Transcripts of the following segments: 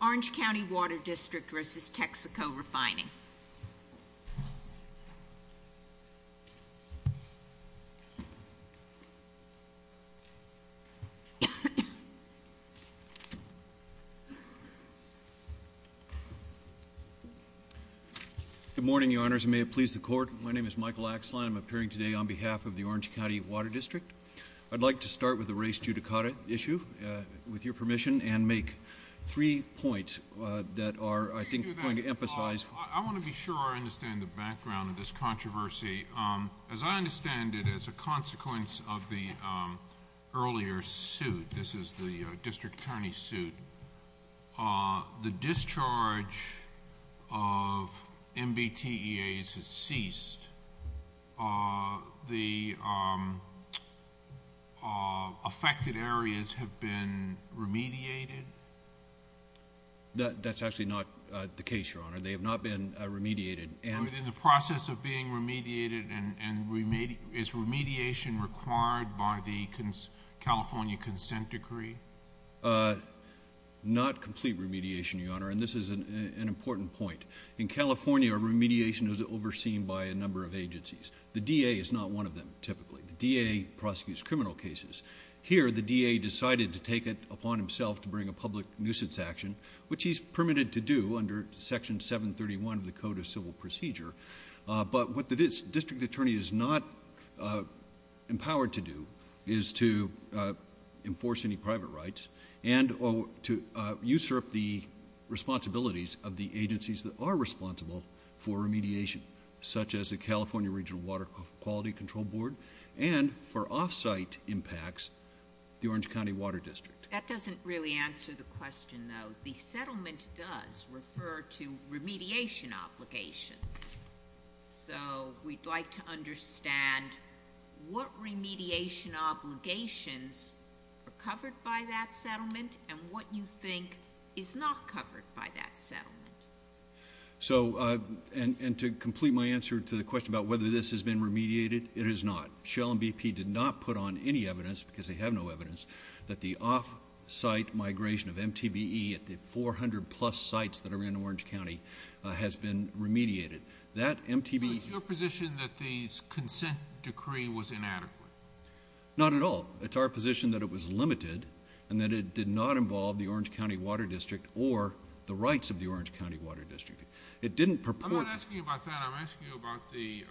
Orange County Water District versus Texaco Refining. Good morning, your honors. May it please the court. My name is Michael Axelheim. I'm appearing today on behalf of the Orange County Water District. I'd like to start with the race judicata issue, with your permission, and make three points that are, I think, going to emphasize. I want to be sure I understand the background of this controversy. As I understand it, as a consequence of the earlier suit, this is the district attorney suit, the discharge of MBTEAs has ceased. The affected areas have been remediated? That's actually not the case, your honor. They have not been remediated. And- In the process of being remediated, and is remediation required by the California Consent Decree? Not complete remediation, your honor, and this is an important point. In California, remediation is overseen by a number of agencies. The DA is not one of them, typically. The DA prosecutes criminal cases. Here, the DA decided to take it upon himself to bring a public nuisance action, which he's permitted to do under Section 731 of the Code of Civil Procedure. But what the district attorney is not empowered to do is to enforce any private rights and to usurp the responsibilities of the agencies that are responsible for remediation, such as the California Regional Water Quality Control Board. And for off-site impacts, the Orange County Water District. That doesn't really answer the question, though. The settlement does refer to remediation obligations. So we'd like to understand what remediation obligations are covered by that settlement, and what you think is not covered by that settlement. So, and to complete my answer to the question about whether this has been remediated, it is not. Shell and BP did not put on any evidence, because they have no evidence, that the off-site migration of MTBE at the 400 plus sites that are in Orange County has been remediated. That MTBE- So it's your position that the consent decree was inadequate? Not at all. It's our position that it was limited, and that it did not involve the Orange County Water District or the rights of the Orange County Water District. It didn't purport- I'm not asking you about that, I'm asking you about the,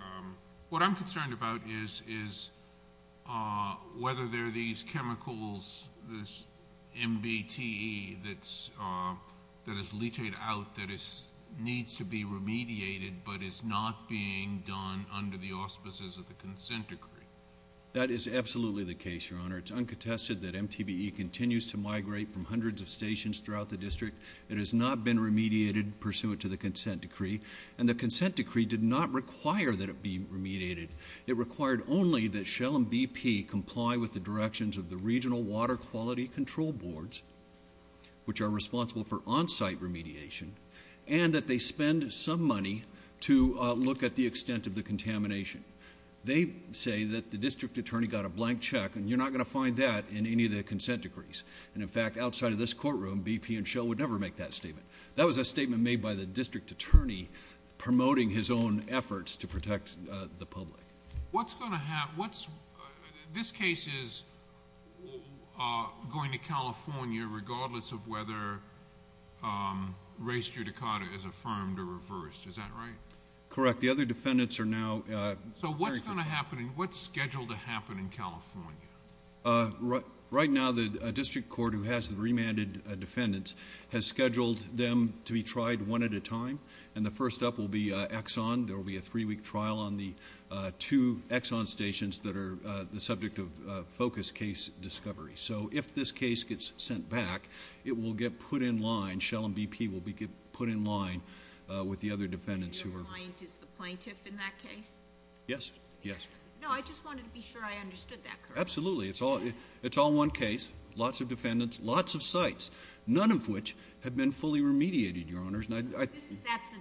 what I'm concerned about is whether there are these chemicals, this MBTE that is leachated out that needs to be remediated, but is not being done under the auspices of the consent decree. That is absolutely the case, your honor. It's uncontested that MTBE continues to migrate from hundreds of stations throughout the district. It has not been remediated pursuant to the consent decree, and the consent decree did not require that it be remediated. It required only that Shell and BP comply with the directions of the regional water quality control boards, which are responsible for on-site remediation, and that they spend some money to look at the extent of the contamination. They say that the district attorney got a blank check, and you're not going to find that in any of the consent decrees. And in fact, outside of this courtroom, BP and Shell would never make that statement. That was a statement made by the district attorney promoting his own efforts to protect the public. What's going to happen, this case is going to California, regardless of whether race judicata is affirmed or reversed, is that right? Correct, the other defendants are now- So what's going to happen, and what's scheduled to happen in California? Right now, the district court who has the remanded defendants has scheduled them to be tried one at a time. And the first up will be Exxon, there will be a three week trial on the two Exxon stations that are the subject of focus case discovery. So if this case gets sent back, it will get put in line, Shell and BP will get put in line with the other defendants who are- Your client is the plaintiff in that case? Yes, yes. No, I just wanted to be sure I understood that correctly. Absolutely, it's all one case, lots of defendants, lots of sites, none of which have been fully remediated, Your Honors. That's a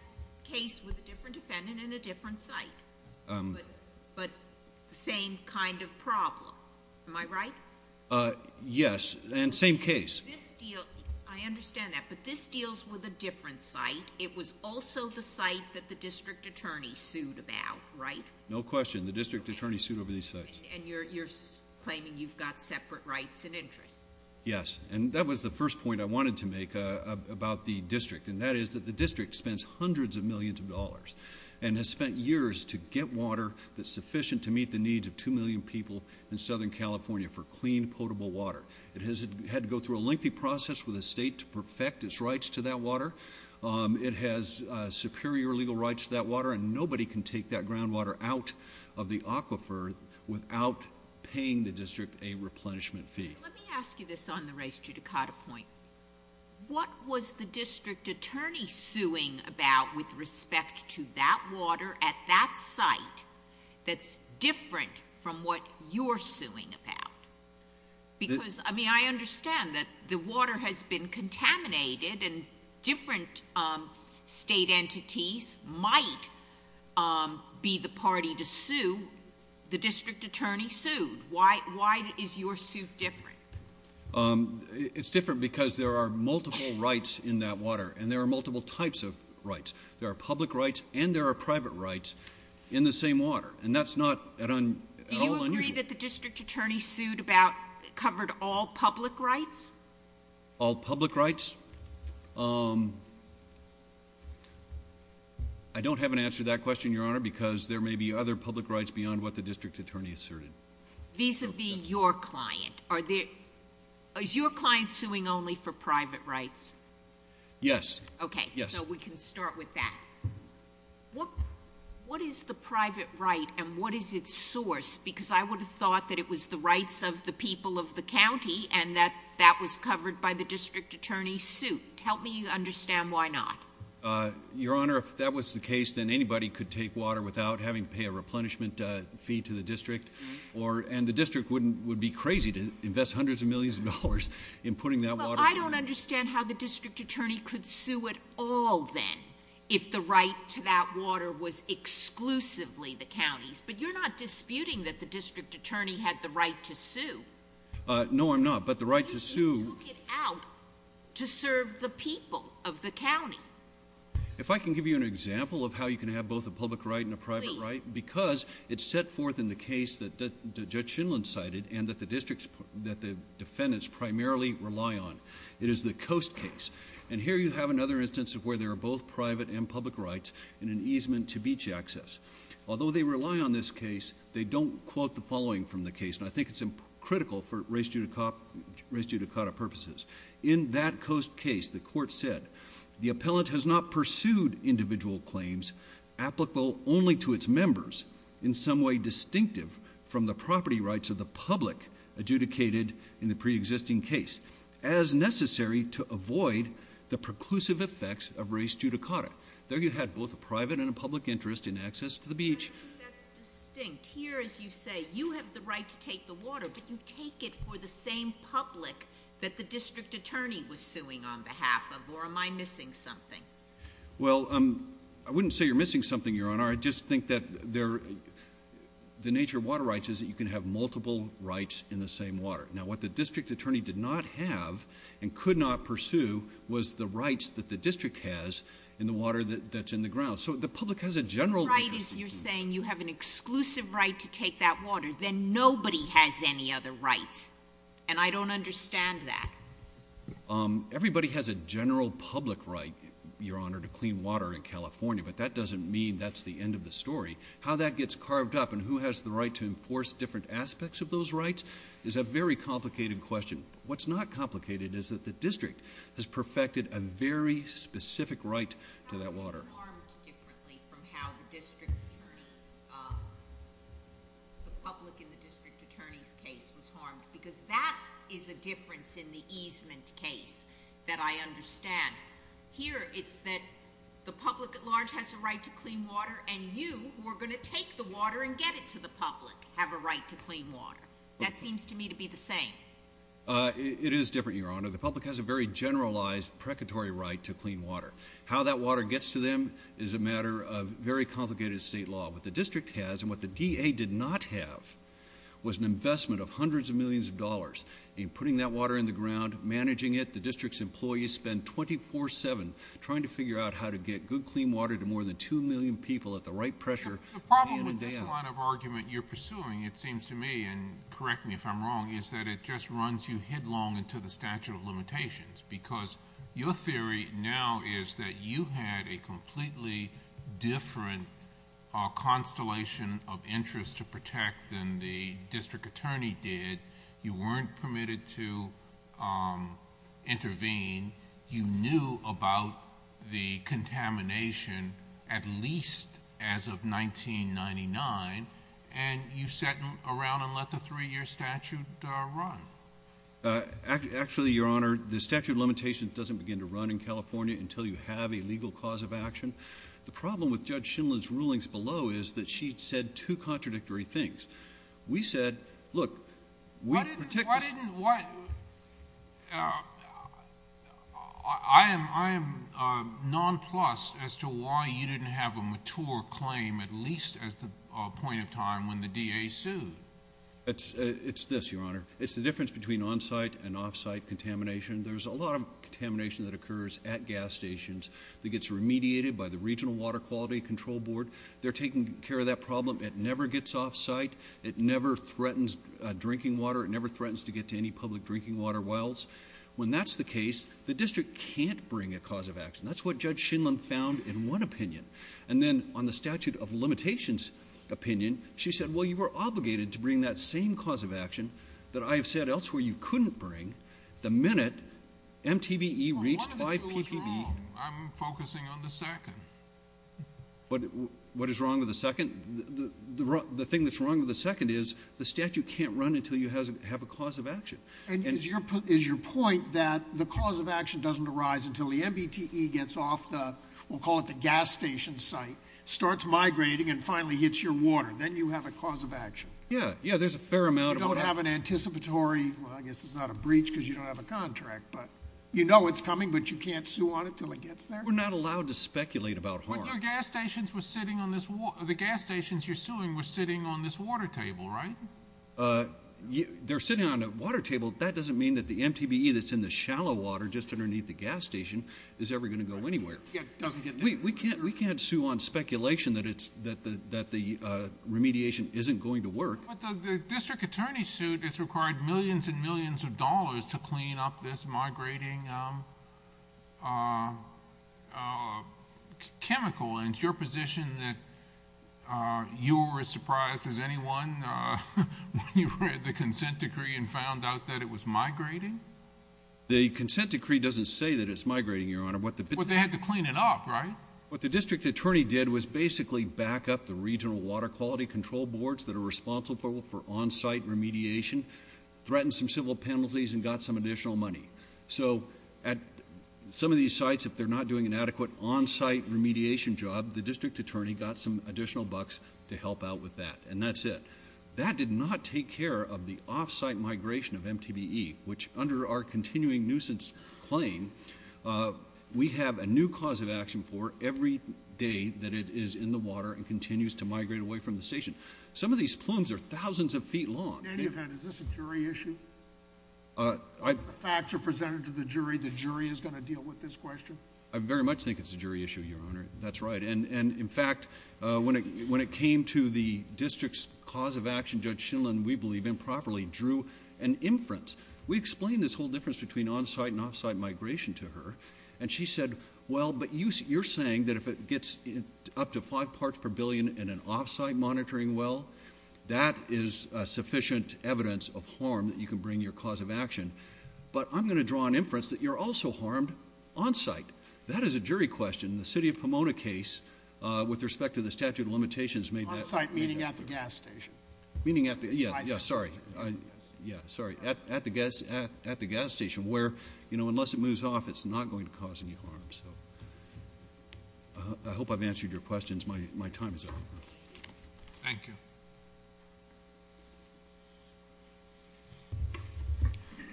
case with a different defendant and a different site, but the same kind of problem, am I right? Yes, and same case. This deal, I understand that, but this deals with a different site. It was also the site that the district attorney sued about, right? No question, the district attorney sued over these sites. And you're claiming you've got separate rights and interests? Yes, and that was the first point I wanted to make about the district. And that is that the district spends hundreds of millions of dollars and has spent years to get water that's sufficient to meet the needs of 2 million people in Southern California for clean, potable water. It has had to go through a lengthy process with the state to perfect its rights to that water. It has superior legal rights to that water, and nobody can take that groundwater out of the aquifer without paying the district a replenishment fee. Let me ask you this on the Rice-Judicata point. What was the district attorney suing about with respect to that water at that site? That's different from what you're suing about. Because, I mean, I understand that the water has been contaminated and different state entities might be the party to sue. The district attorney sued. Why is your suit different? It's different because there are multiple rights in that water, and there are multiple types of rights. There are public rights and there are private rights in the same water, and that's not at all unusual. Do you agree that the district attorney sued about, covered all public rights? All public rights? I don't have an answer to that question, Your Honor, because there may be other public rights beyond what the district attorney asserted. Vis-a-vis your client, is your client suing only for private rights? Yes. Okay, so we can start with that. What is the private right, and what is its source? Because I would have thought that it was the rights of the people of the county, and that that was covered by the district attorney's suit. Help me understand why not. Your Honor, if that was the case, then anybody could take water without having to pay a replenishment fee to the district. And the district would be crazy to invest hundreds of millions of dollars in putting that water- Well, I don't understand how the district attorney could sue it all then, if the right to that water was exclusively the county's. But you're not disputing that the district attorney had the right to sue. No, I'm not, but the right to sue- If I can give you an example of how you can have both a public right and a private right, because it's set forth in the case that Judge Shindlin cited, and that the defendants primarily rely on. It is the Coast case. And here you have another instance of where there are both private and public rights in an easement to beach access. Although they rely on this case, they don't quote the following from the case, and I think it's critical for race judicata purposes. In that Coast case, the court said, the appellant has not pursued individual claims applicable only to its members in some way distinctive from the property rights of the public adjudicated in the pre-existing case as necessary to avoid the preclusive effects of race judicata. There you had both a private and a public interest in access to the beach. I don't think that's distinct. Here, as you say, you have the right to take the water, but you take it for the same public that the district attorney was suing on behalf of, or am I missing something? Well, I wouldn't say you're missing something, Your Honor. I just think that the nature of water rights is that you can have multiple rights in the same water. Now, what the district attorney did not have and could not pursue was the rights that the district has in the water that's in the ground. So the public has a general- Your right is you're saying you have an exclusive right to take that water, then nobody has any other rights. And I don't understand that. Everybody has a general public right, Your Honor, to clean water in California, but that doesn't mean that's the end of the story. How that gets carved up and who has the right to enforce different aspects of those rights is a very complicated question. What's not complicated is that the district has perfected a very specific right to that water. It's harmed differently from how the public in the district attorney's case was harmed, because that is a difference in the easement case that I understand. Here, it's that the public at large has a right to clean water, and you, who are going to take the water and get it to the public, have a right to clean water. That seems to me to be the same. It is different, Your Honor. The public has a very generalized, precatory right to clean water. How that water gets to them is a matter of very complicated state law. What the district has, and what the DA did not have, was an investment of hundreds of millions of dollars in putting that water in the ground, managing it. The district's employees spend 24-7 trying to figure out how to get good, clean water to more than 2 million people at the right pressure, hand in hand. The problem with this line of argument you're pursuing, it seems to me, and correct me if I'm wrong, is that it just runs you headlong into the statute of limitations. Because your theory now is that you had a completely different constellation of interest to protect than the district attorney did. You weren't permitted to intervene. You knew about the contamination at least as of 1999, and you sat around and let the three year statute run. Actually, Your Honor, the statute of limitations doesn't begin to run in California until you have a legal cause of action. The problem with Judge Schindler's rulings below is that she said two contradictory things. We said, look, we protect the- I am nonplussed as to why you didn't have a mature claim at least as the point of time when the DA sued. It's this, Your Honor. It's the difference between on-site and off-site contamination. There's a lot of contamination that occurs at gas stations that gets remediated by the Regional Water Quality Control Board. They're taking care of that problem. It never gets off-site. It never threatens drinking water. It never threatens to get to any public drinking water wells. When that's the case, the district can't bring a cause of action. That's what Judge Schindler found in one opinion. And then on the statute of limitations opinion, she said, well, you were obligated to bring that same cause of action that I have said elsewhere you couldn't bring the minute MTBE reached 5 ppb. Well, one of the two is wrong. I'm focusing on the second. But what is wrong with the second? The thing that's wrong with the second is the statute can't run until you have a cause of action. And it is your point that the cause of action doesn't arise until the MBTE gets off the, we'll call it the gas station site, starts migrating, and finally hits your water. Then you have a cause of action. Yeah, yeah, there's a fair amount of water. You don't have an anticipatory, well, I guess it's not a breach because you don't have a contract, but you know it's coming, but you can't sue on it until it gets there? We're not allowed to speculate about harm. But your gas stations were sitting on this, the gas stations you're suing were sitting on this water table, right? They're sitting on a water table. That doesn't mean that the MTBE that's in the shallow water just underneath the gas station is ever going to go anywhere. It doesn't get there. We can't sue on speculation that the remediation isn't going to work. But the district attorney's suit has required millions and millions of dollars to clean up this migrating chemical, and it's your position that you were as surprised as anyone when you read the consent decree and found out that it was migrating? The consent decree doesn't say that it's migrating, Your Honor. But they had to clean it up, right? What the district attorney did was basically back up the regional water quality control boards that are responsible for on-site remediation, threatened some civil penalties, and got some additional money. So at some of these sites, if they're not doing an adequate on-site remediation job, the district attorney got some additional bucks to help out with that, and that's it. That did not take care of the off-site migration of MTBE, which under our continuing nuisance claim, we have a new cause of action for every day that it is in the water and continues to migrate away from the station. Some of these plumes are thousands of feet long. In any event, is this a jury issue? If the facts are presented to the jury, the jury is going to deal with this question? I very much think it's a jury issue, Your Honor. That's right, and in fact, when it came to the district's cause of action, Judge Schindler, and we believe improperly, drew an inference. We explained this whole difference between on-site and off-site migration to her. And she said, well, but you're saying that if it gets up to five parts per billion in an off-site monitoring well, that is sufficient evidence of harm that you can bring your cause of action. But I'm going to draw an inference that you're also harmed on-site. That is a jury question. The city of Pomona case, with respect to the statute of limitations, made that- On-site, meaning at the gas station. Meaning at the, yeah, yeah, sorry. Yeah, sorry, at the gas station, where, unless it moves off, it's not going to cause any harm, so. I hope I've answered your questions. My time is up. Thank you.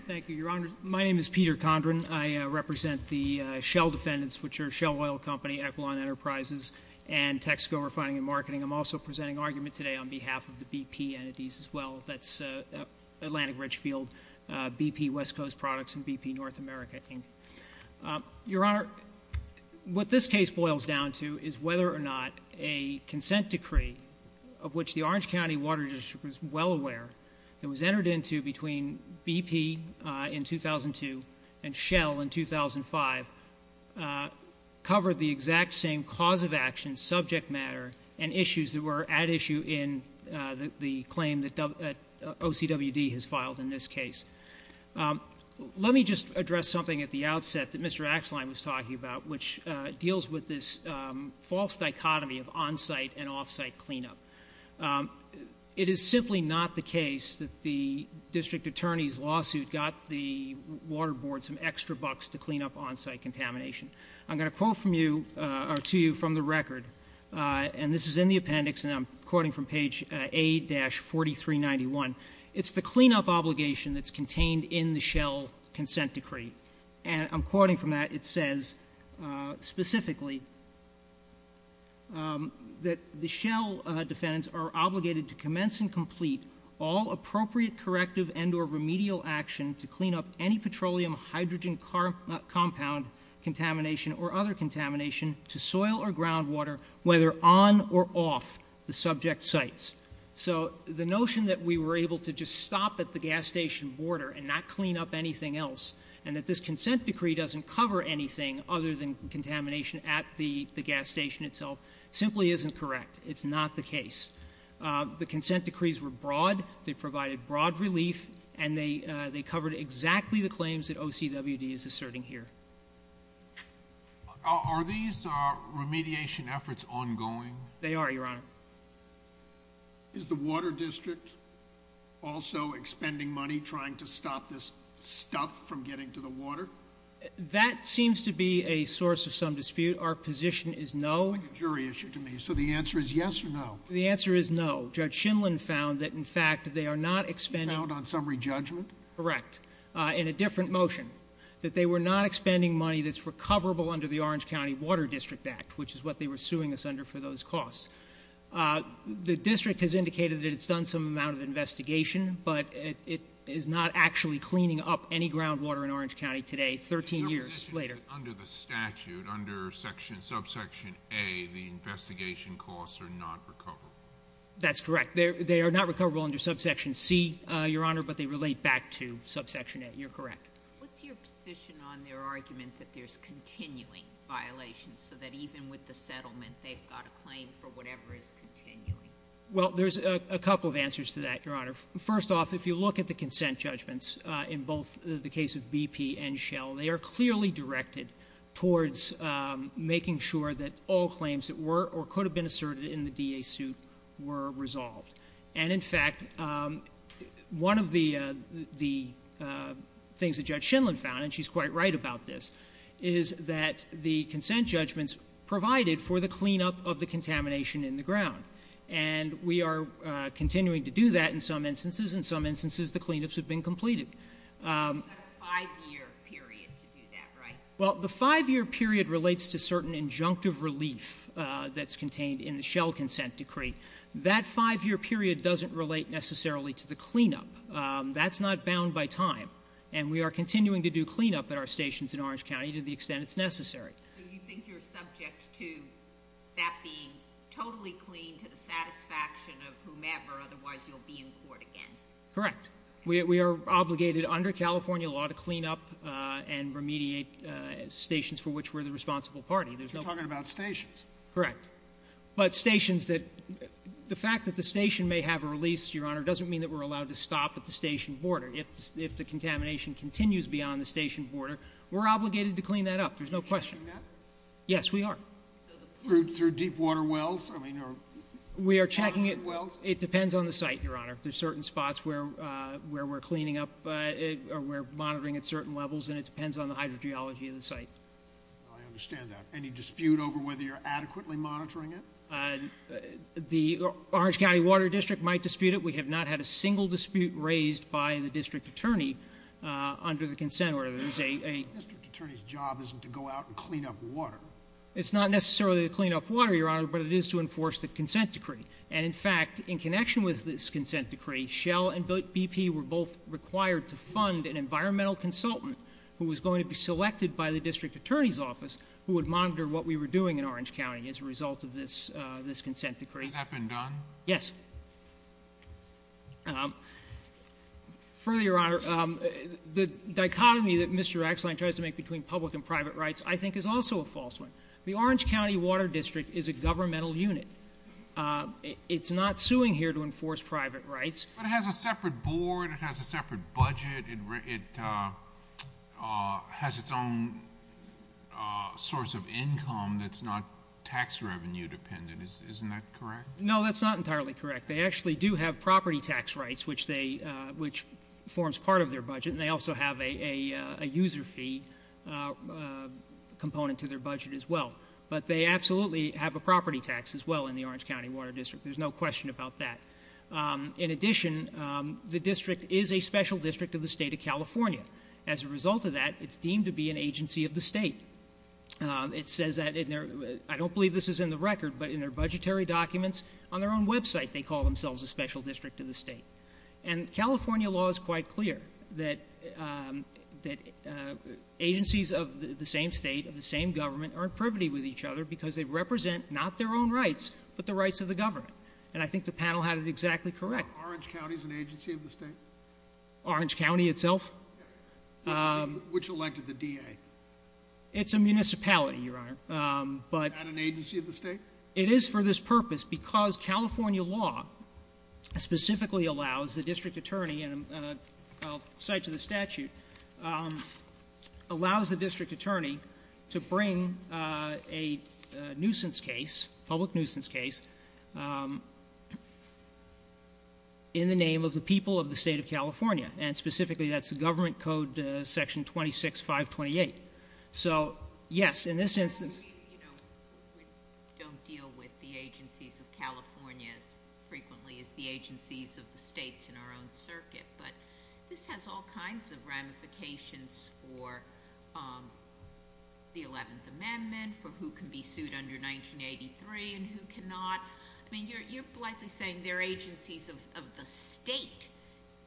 Thank you, Your Honor. My name is Peter Condren. I represent the Shell Defendants, which are Shell Oil Company, Equilon Enterprises, and Texaco Refining and Marketing. I'm also presenting argument today on behalf of the BP entities as well. That's Atlantic Ridge Field, BP West Coast Products, and BP North America, Inc. Your Honor, what this case boils down to is whether or not a consent decree of which the Orange County Water District was well aware, that was entered into between BP in 2002 and Shell in 2005, covered the exact same cause of action, subject matter, and issues that were at issue in the claim that OCWD has filed in this case. Let me just address something at the outset that Mr. Axelheim was talking about, which deals with this false dichotomy of on-site and off-site cleanup. It is simply not the case that the district attorney's lawsuit got the water board some extra bucks to clean up on-site contamination. I'm going to quote from you, or to you, from the record, and this is in the appendix, and I'm quoting from page A-4391. It's the cleanup obligation that's contained in the Shell consent decree. And I'm quoting from that, it says, specifically, that the Shell defendants are obligated to commence and complete all appropriate corrective and or remedial action to clean up any petroleum hydrogen compound contamination or other contamination to soil or groundwater, whether on or off the subject sites. So the notion that we were able to just stop at the gas station border and not clean up anything else, and that this consent decree doesn't cover anything other than contamination at the gas station itself, simply isn't correct. It's not the case. The consent decrees were broad, they provided broad relief, and they covered exactly the claims that OCWD is asserting here. Are these remediation efforts ongoing? They are, Your Honor. Is the Water District also expending money trying to stop this stuff from getting to the water? That seems to be a source of some dispute. Our position is no. It's like a jury issue to me. So the answer is yes or no? The answer is no. Judge Shinlin found that, in fact, they are not expending- He found on summary judgment? Correct, in a different motion, that they were not expending money that's recoverable under the Orange County Water District Act, which is what they were suing us under for those costs. The district has indicated that it's done some amount of investigation, but it is not actually cleaning up any groundwater in Orange County today, 13 years later. Under the statute, under subsection A, the investigation costs are not recoverable. That's correct, they are not recoverable under subsection C, Your Honor, but they relate back to subsection A, you're correct. What's your position on their argument that there's continuing violations, so that even with the settlement, they've got a claim for whatever is continuing? Well, there's a couple of answers to that, Your Honor. First off, if you look at the consent judgments in both the case of BP and Shell, they are clearly directed towards making sure that all claims that were or could have been asserted in the DA suit were resolved. And in fact, one of the things that Judge Shindlen found, and she's quite right about this, is that the consent judgments provided for the cleanup of the contamination in the ground, and we are continuing to do that in some instances. In some instances, the cleanups have been completed. You've got a five year period to do that, right? Well, the five year period relates to certain injunctive relief that's contained in the Shell consent decree. That five year period doesn't relate necessarily to the cleanup. That's not bound by time. And we are continuing to do cleanup at our stations in Orange County to the extent it's necessary. So you think you're subject to that being totally clean to the satisfaction of whomever, otherwise you'll be in court again? Correct. We are obligated under California law to clean up and remediate stations for which we're the responsible party. You're talking about stations. Correct. But stations that, the fact that the station may have a release, Your Honor, doesn't mean that we're allowed to stop at the station border. If the contamination continues beyond the station border, we're obligated to clean that up. There's no question. Yes, we are. Through deep water wells, I mean, or- We are checking it. It depends on the site, Your Honor. There's certain spots where we're cleaning up, or we're monitoring at certain levels, and it depends on the hydrogeology of the site. I understand that. Any dispute over whether you're adequately monitoring it? The Orange County Water District might dispute it. We have not had a single dispute raised by the district attorney under the consent order. There's a- The district attorney's job isn't to go out and clean up water. It's not necessarily to clean up water, Your Honor, but it is to enforce the consent decree. And in fact, in connection with this consent decree, Shell and BP were both required to fund an environmental consultant who was going to be selected by the district attorney's office who would monitor what we were doing in Orange County as a result of this consent decree. Has that been done? Yes. Further, Your Honor, the dichotomy that Mr. Axelhein tries to make between public and private rights, I think, is also a false one. The Orange County Water District is a governmental unit. It's not suing here to enforce private rights. But it has a separate board. It has a separate budget. It has its own source of income that's not tax revenue dependent. Isn't that correct? No, that's not entirely correct. They actually do have property tax rights, which forms part of their budget. And they also have a user fee component to their budget as well. But they absolutely have a property tax as well in the Orange County Water District. There's no question about that. In addition, the district is a special district of the state of California. As a result of that, it's deemed to be an agency of the state. It says that in their, I don't believe this is in the record, but in their budgetary documents on their own website, they call themselves a special district of the state. And California law is quite clear that agencies of the same state, of the same government, are in privity with each other because they represent not their own rights, but the rights of the government. And I think the panel had it exactly correct. Orange County is an agency of the state? Orange County itself? Which elected the DA? It's a municipality, Your Honor. But- Is that an agency of the state? It is for this purpose because California law specifically allows the district attorney, and I'll cite to the statute, allows the district attorney to bring a public nuisance case in the name of the people of the state of California. And specifically, that's the government code section 26528. So yes, in this instance- We don't deal with the agencies of California as frequently as the agencies of the states in our own circuit, but this has all kinds of ramifications for the 11th Amendment, for who can be sued under 1983 and who cannot. I mean, you're likely saying they're agencies of the state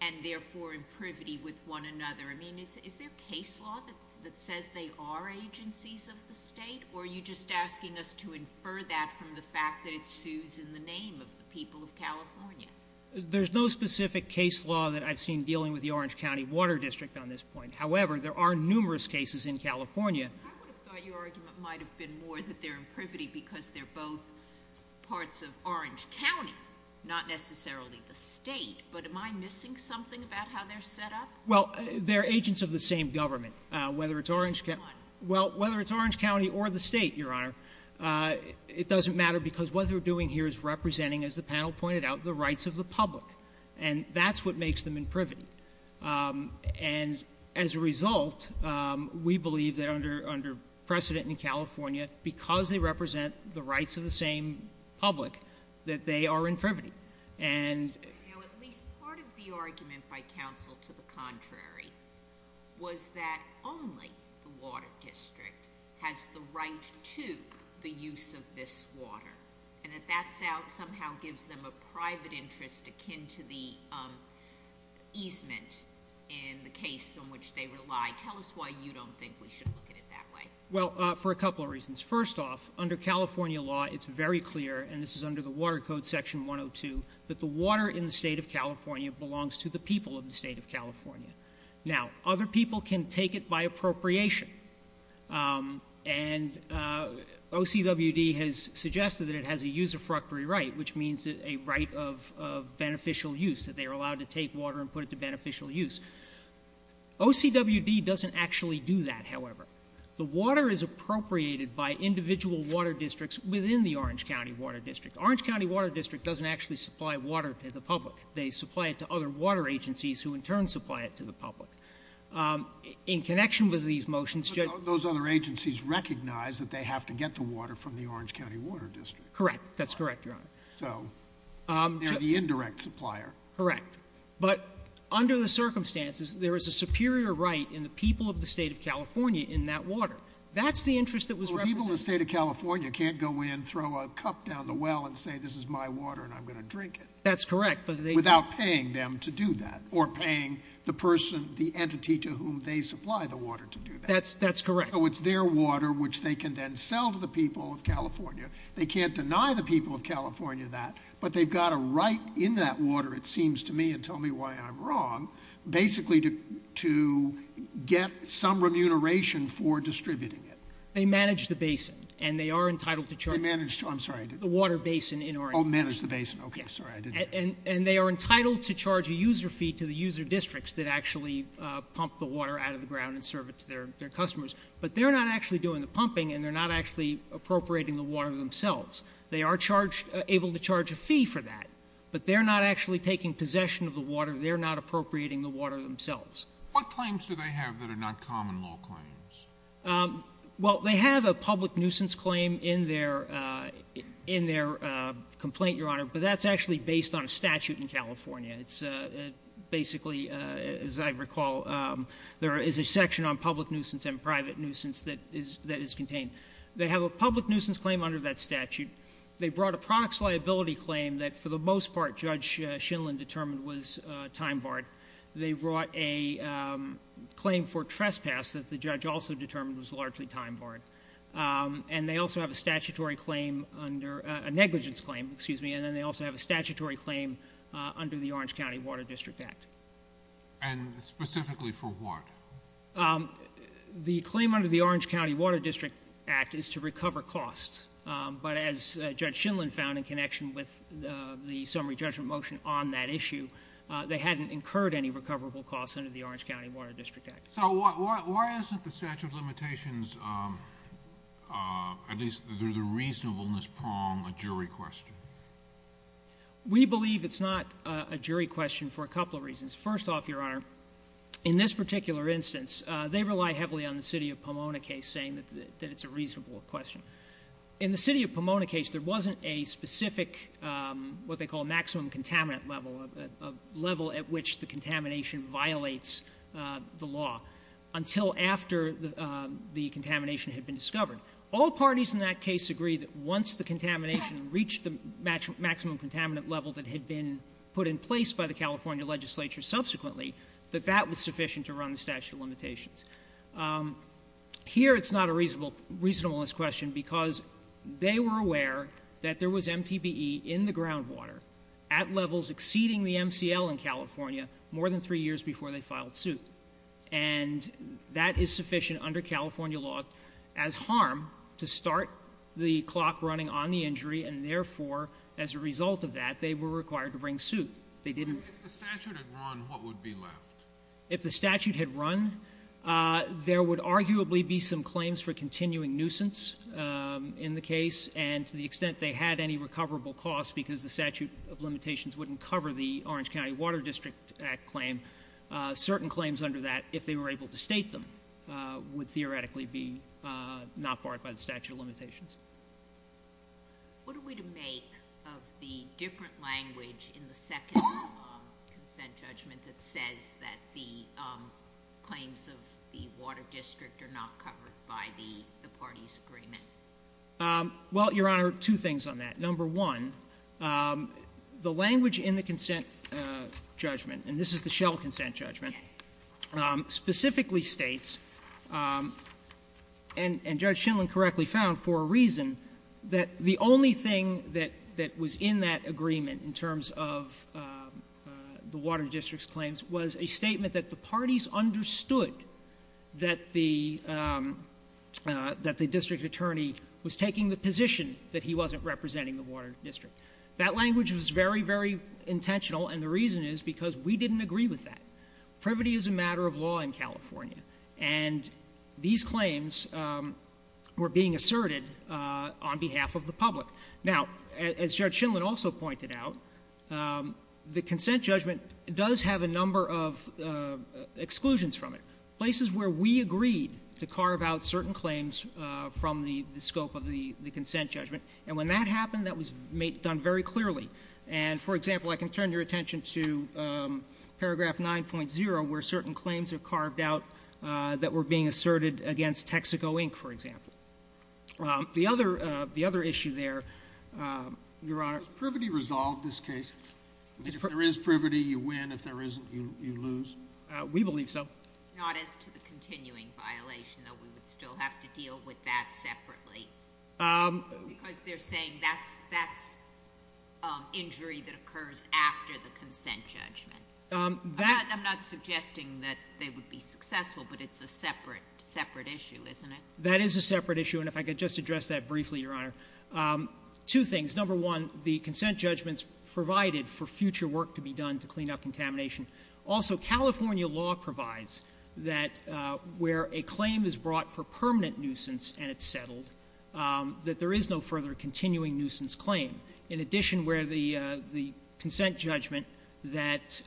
and therefore in privity with one another. I mean, is there case law that says they are agencies of the state? Or are you just asking us to infer that from the fact that it sues in the name of the people of California? There's no specific case law that I've seen dealing with the Orange County Water District on this point. However, there are numerous cases in California. I would have thought your argument might have been more that they're in privity because they're both parts of Orange County, not necessarily the state, but am I missing something about how they're set up? Well, they're agents of the same government, whether it's Orange County or the state, Your Honor. It doesn't matter because what they're doing here is representing, as the panel pointed out, the rights of the public. And that's what makes them in privity. And as a result, we believe that under precedent in California, because they represent the rights of the same public, that they are in privity. And- Now at least part of the argument by counsel to the contrary was that only the water district has the right to the use of this water. And that that somehow gives them a private interest akin to the easement in the case on which they rely. Tell us why you don't think we should look at it that way. Well, for a couple of reasons. First off, under California law, it's very clear, and this is under the Water Code Section 102, that the water in the state of California belongs to the people of the state of California. Now, other people can take it by appropriation. And OCWD has suggested that it has a use of fructory right, which means a right of beneficial use, that they are allowed to take water and put it to beneficial use. OCWD doesn't actually do that, however. The water is appropriated by individual water districts within the Orange County Water District. Orange County Water District doesn't actually supply water to the public. They supply it to other water agencies who in turn supply it to the public. In connection with these motions- But those other agencies recognize that they have to get the water from the Orange County Water District. Correct, that's correct, Your Honor. So, they're the indirect supplier. Correct. But under the circumstances, there is a superior right in the people of the state of California in that water. That's the interest that was represented- Well, people in the state of California can't go in, throw a cup down the well, and say this is my water and I'm going to drink it. That's correct, but they- The entity to whom they supply the water to do that. That's correct. So, it's their water, which they can then sell to the people of California. They can't deny the people of California that, but they've got a right in that water, it seems to me, and tell me why I'm wrong, basically to get some remuneration for distributing it. They manage the basin, and they are entitled to charge- They manage, I'm sorry, I didn't- The water basin in Orange County. Manage the basin, okay, sorry, I didn't hear. And they are entitled to charge a user fee to the user districts that actually pump the water out of the ground and serve it to their customers. But they're not actually doing the pumping, and they're not actually appropriating the water themselves. They are charged, able to charge a fee for that. But they're not actually taking possession of the water, they're not appropriating the water themselves. What claims do they have that are not common law claims? Well, they have a public nuisance claim in their complaint, Your Honor. But that's actually based on a statute in California. It's basically, as I recall, there is a section on public nuisance and private nuisance that is contained. They have a public nuisance claim under that statute. They brought a products liability claim that, for the most part, Judge Shindlin determined was time barred. They brought a claim for trespass that the judge also determined was largely time barred. And they also have a statutory claim under, a negligence claim, excuse me, and then they also have a statutory claim under the Orange County Water District Act. And specifically for what? The claim under the Orange County Water District Act is to recover costs. But as Judge Shindlin found in connection with the summary judgment motion on that issue, they hadn't incurred any recoverable costs under the Orange County Water District Act. So why isn't the statute of limitations, at least through the reasonableness prong, a jury question? We believe it's not a jury question for a couple of reasons. First off, Your Honor, in this particular instance, they rely heavily on the city of Pomona case saying that it's a reasonable question. In the city of Pomona case, there wasn't a specific, what they call maximum contaminant level, a level at which the contamination violates the law, until after the contamination had been discovered. All parties in that case agree that once the contamination reached the maximum contaminant level that had been put in place by the California legislature subsequently, that that was sufficient to run the statute of limitations. Here it's not a reasonableness question because they were aware that there was MTBE in the groundwater at levels exceeding the MCL in California more than three years before they filed suit. And that is sufficient under California law as harm to start the clock running on the injury. And therefore, as a result of that, they were required to bring suit. They didn't- If the statute had run, what would be left? If the statute had run, there would arguably be some claims for continuing nuisance in the case, and to the extent they had any recoverable cost, because the statute of limitations wouldn't cover the Orange County Water District Act claim. Certain claims under that, if they were able to state them, would theoretically be not barred by the statute of limitations. What are we to make of the different language in the second consent judgment that says that the claims of the water district are not covered by the party's agreement? Well, Your Honor, two things on that. Number one, the language in the consent judgment, and this is the Shell consent judgment, specifically states, and the reason, that the only thing that was in that agreement in terms of the water district's claims was a statement that the parties understood that the district attorney was taking the position that he wasn't representing the water district. That language was very, very intentional, and the reason is because we didn't agree with that. And these claims were being asserted on behalf of the public. Now, as Judge Shindlin also pointed out, the consent judgment does have a number of exclusions from it, places where we agreed to carve out certain claims from the scope of the consent judgment, and when that happened, that was done very clearly. And for example, I can turn your attention to paragraph 9.0, where certain claims are carved out that were being asserted against Texaco, Inc., for example. The other issue there, Your Honor- Was privity resolved in this case? If there is privity, you win. If there isn't, you lose. We believe so. Not as to the continuing violation, though we would still have to deal with that separately. Because they're saying that's injury that occurs after the consent judgment. I'm not suggesting that they would be successful, but it's a separate issue, isn't it? That is a separate issue, and if I could just address that briefly, Your Honor. Two things. Number one, the consent judgment's provided for future work to be done to clean up contamination. Also, California law provides that where a claim is brought for permanent nuisance and it's settled, that there is no further continuing nuisance claim. In addition, where the consent judgment that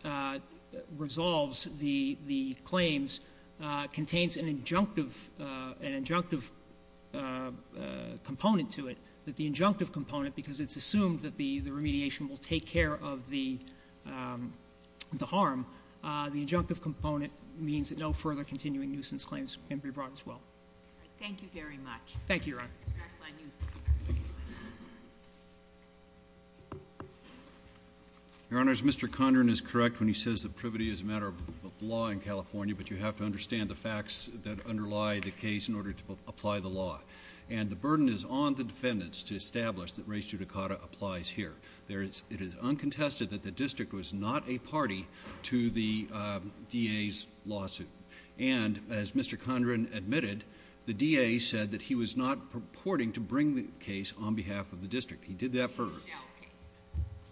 resolves the claims contains an injunctive component to it, that the injunctive component, because it's assumed that the remediation will take care of the harm, the injunctive component means that no further continuing nuisance claims can be brought as well. Thank you very much. Thank you, Your Honor. Your Honor, is Mr. Condren is correct when he says that privity is a matter of law in California, but you have to understand the facts that underlie the case in order to apply the law. And the burden is on the defendants to establish that res judicata applies here. It is uncontested that the district was not a party to the DA's lawsuit. And as Mr. Condren admitted, the DA said that he was not purporting to bring the case on behalf of the district. He did that for-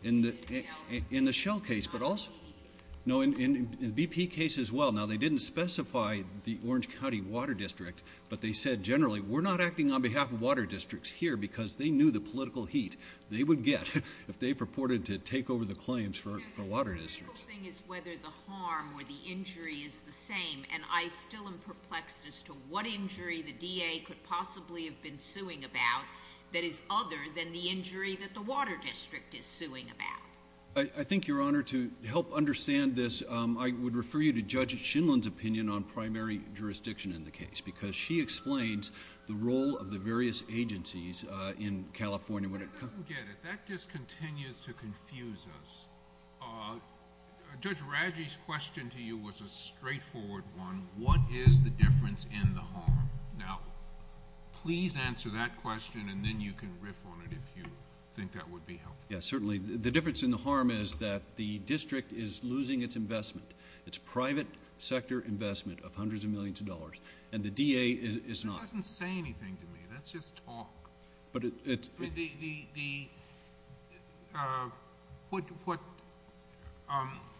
In the Shell case. In the Shell case, but also- Not in BP. No, in the BP case as well. Now, they didn't specify the Orange County Water District, but they said generally, we're not acting on behalf of water districts here because they knew the political heat they would get if they purported to take over the claims for water districts. The critical thing is whether the harm or the injury is the same. And I still am perplexed as to what injury the DA could possibly have been suing about that is other than the injury that the water district is suing about. I think, Your Honor, to help understand this, I would refer you to Judge Shinlin's opinion on primary jurisdiction in the case because she explains the role of the various agencies in California when it- I don't get it. That just continues to confuse us. Judge Radji's question to you was a straightforward one. What is the difference in the harm? Now, please answer that question and then you can riff on it if you think that would be helpful. Yes, certainly. The difference in the harm is that the district is losing its investment, its private sector investment of hundreds of millions of dollars, and the DA is not- That's just talk. What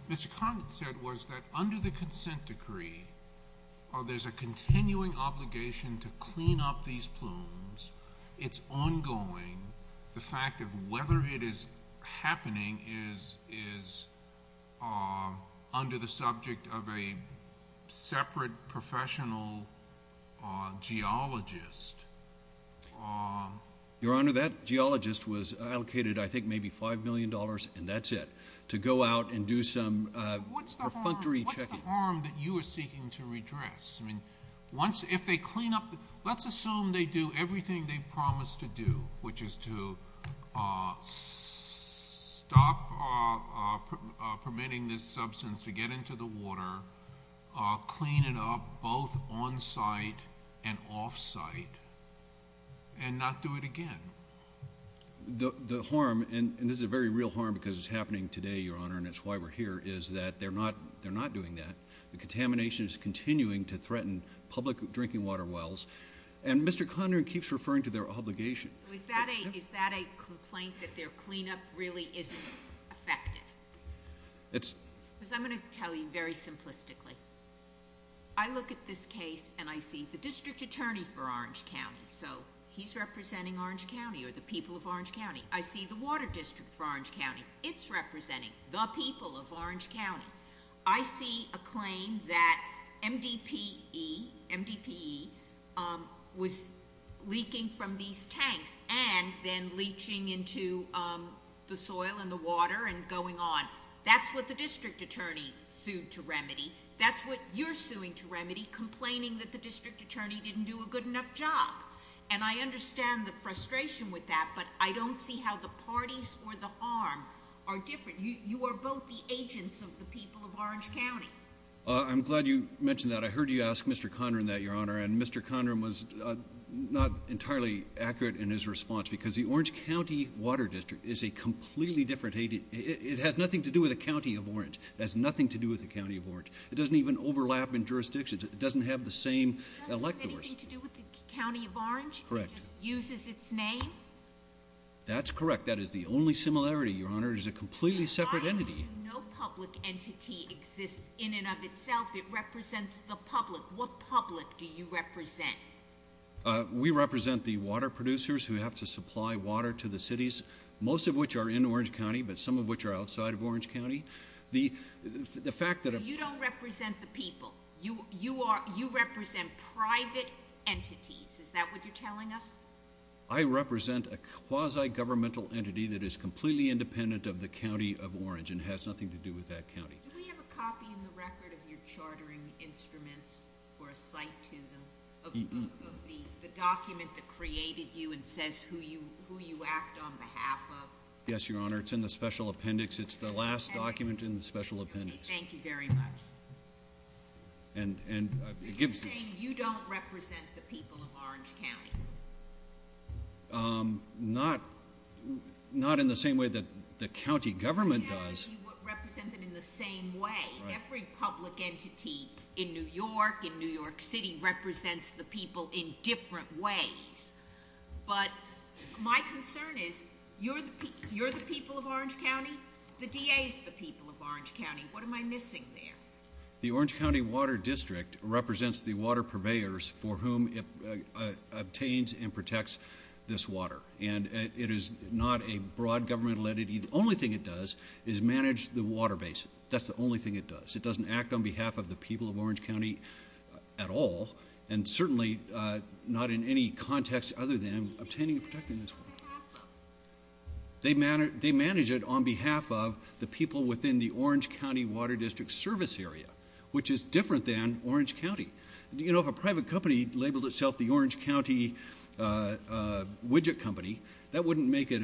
Mr. Condon said was that under the consent decree, there's a continuing obligation to clean up these plumes. It's ongoing. The fact of whether it is happening is under the subject of a separate professional geologist. Your Honor, that geologist was allocated, I think, maybe $5 million, and that's it, to go out and do some perfunctory checking. What's the harm that you are seeking to redress? If they clean up- Let's assume they do everything they promised to do, which is to stop permitting this substance to get into the water, clean it up both on-site and off-site, and not do it again. The harm, and this is a very real harm because it's happening today, Your Honor, and it's why we're here, is that they're not doing that. The contamination is continuing to threaten public drinking water wells. Mr. Condon keeps referring to their obligation. Is that a complaint that their cleanup really isn't effective? Because I'm going to tell you very simplistically. I look at this case and I see the district attorney for Orange County. So he's representing Orange County or the people of Orange County. I see the water district for Orange County. It's representing the people of Orange County. I see a claim that MDPE was leaking from these tanks and then leaching into the soil and the water and going on. That's what the district attorney sued to remedy. That's what you're suing to remedy, complaining that the district attorney didn't do a good enough job. And I understand the frustration with that, but I don't see how the parties or the harm are different. You are both the agents of the people of Orange County. I'm glad you mentioned that. I heard you ask Mr. Conron that, Your Honor, and Mr. Conron was not entirely accurate in his response because the Orange County Water District is a completely different agent. It has nothing to do with the county of Orange. It has nothing to do with the county of Orange. It doesn't even overlap in jurisdictions. It doesn't have the same electors. It doesn't have anything to do with the county of Orange? Correct. It just uses its name? That's correct. That is the only similarity, Your Honor. It is a completely separate entity. No public entity exists in and of itself. It represents the public. What public do you represent? We represent the water producers who have to supply water to the cities, most of which are in Orange County, but some of which are outside of Orange County. The fact that... You don't represent the people. You represent private entities. Is that what you're telling us? I represent a quasi-governmental entity that is completely independent of the county of Orange and has nothing to do with that county. Do we have a copy in the record of your chartering instruments or a cite to them of the document that created you and says who you act on behalf of? Yes, Your Honor. It's in the special appendix. It's the last document in the special appendix. Thank you very much. You don't represent the people of Orange County? Not in the same way that the county government does. You represent them in the same way. Every public entity in New York, in New York City, represents the people in different ways. But my concern is you're the people of Orange County. The DA is the people of Orange County. What am I missing there? The Orange County Water District represents the water purveyors for whom it obtains and protects this water, and it is not a broad government entity. The only thing it does is manage the water base. That's the only thing it does. It doesn't act on behalf of the people of Orange County at all, and certainly not in any context other than obtaining and protecting this water. They manage it on behalf of the people within the Orange County Water District service area, which is different than Orange County. You know, if a private company labeled itself the Orange County Widget Company, that wouldn't make it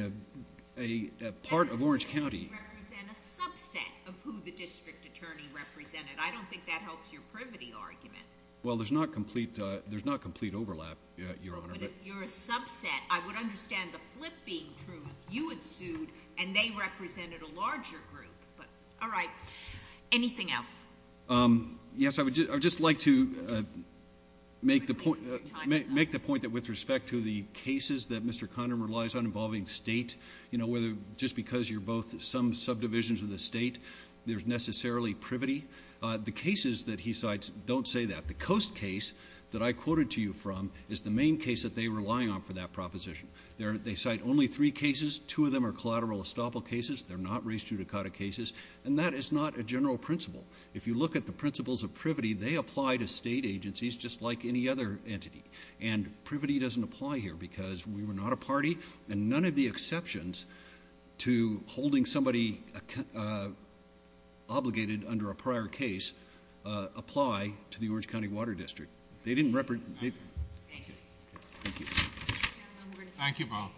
a part of Orange County. That doesn't represent a subset of who the district attorney represented. I don't think that helps your privity argument. Well, there's not complete overlap, Your Honor. But if you're a subset, I would understand the flip being true. You had sued, and they represented a larger group. But all right. Anything else? Yes, I would just like to make the point that with respect to the cases that Mr. Conner relies on involving state, you know, whether just because you're both some subdivisions of the state, there's necessarily privity. The cases that he cites don't say that. The Coast case that I quoted to you from is the main case that they rely on for that proposition. They cite only three cases. Two of them are collateral estoppel cases. They're not race judicata cases. And that is not a general principle. If you look at the principles of privity, they apply to state agencies just like any other entity. And privity doesn't apply here because we were not a party, and none of the exceptions to holding somebody obligated under a prior case apply to the Orange County Water District. Thank you both.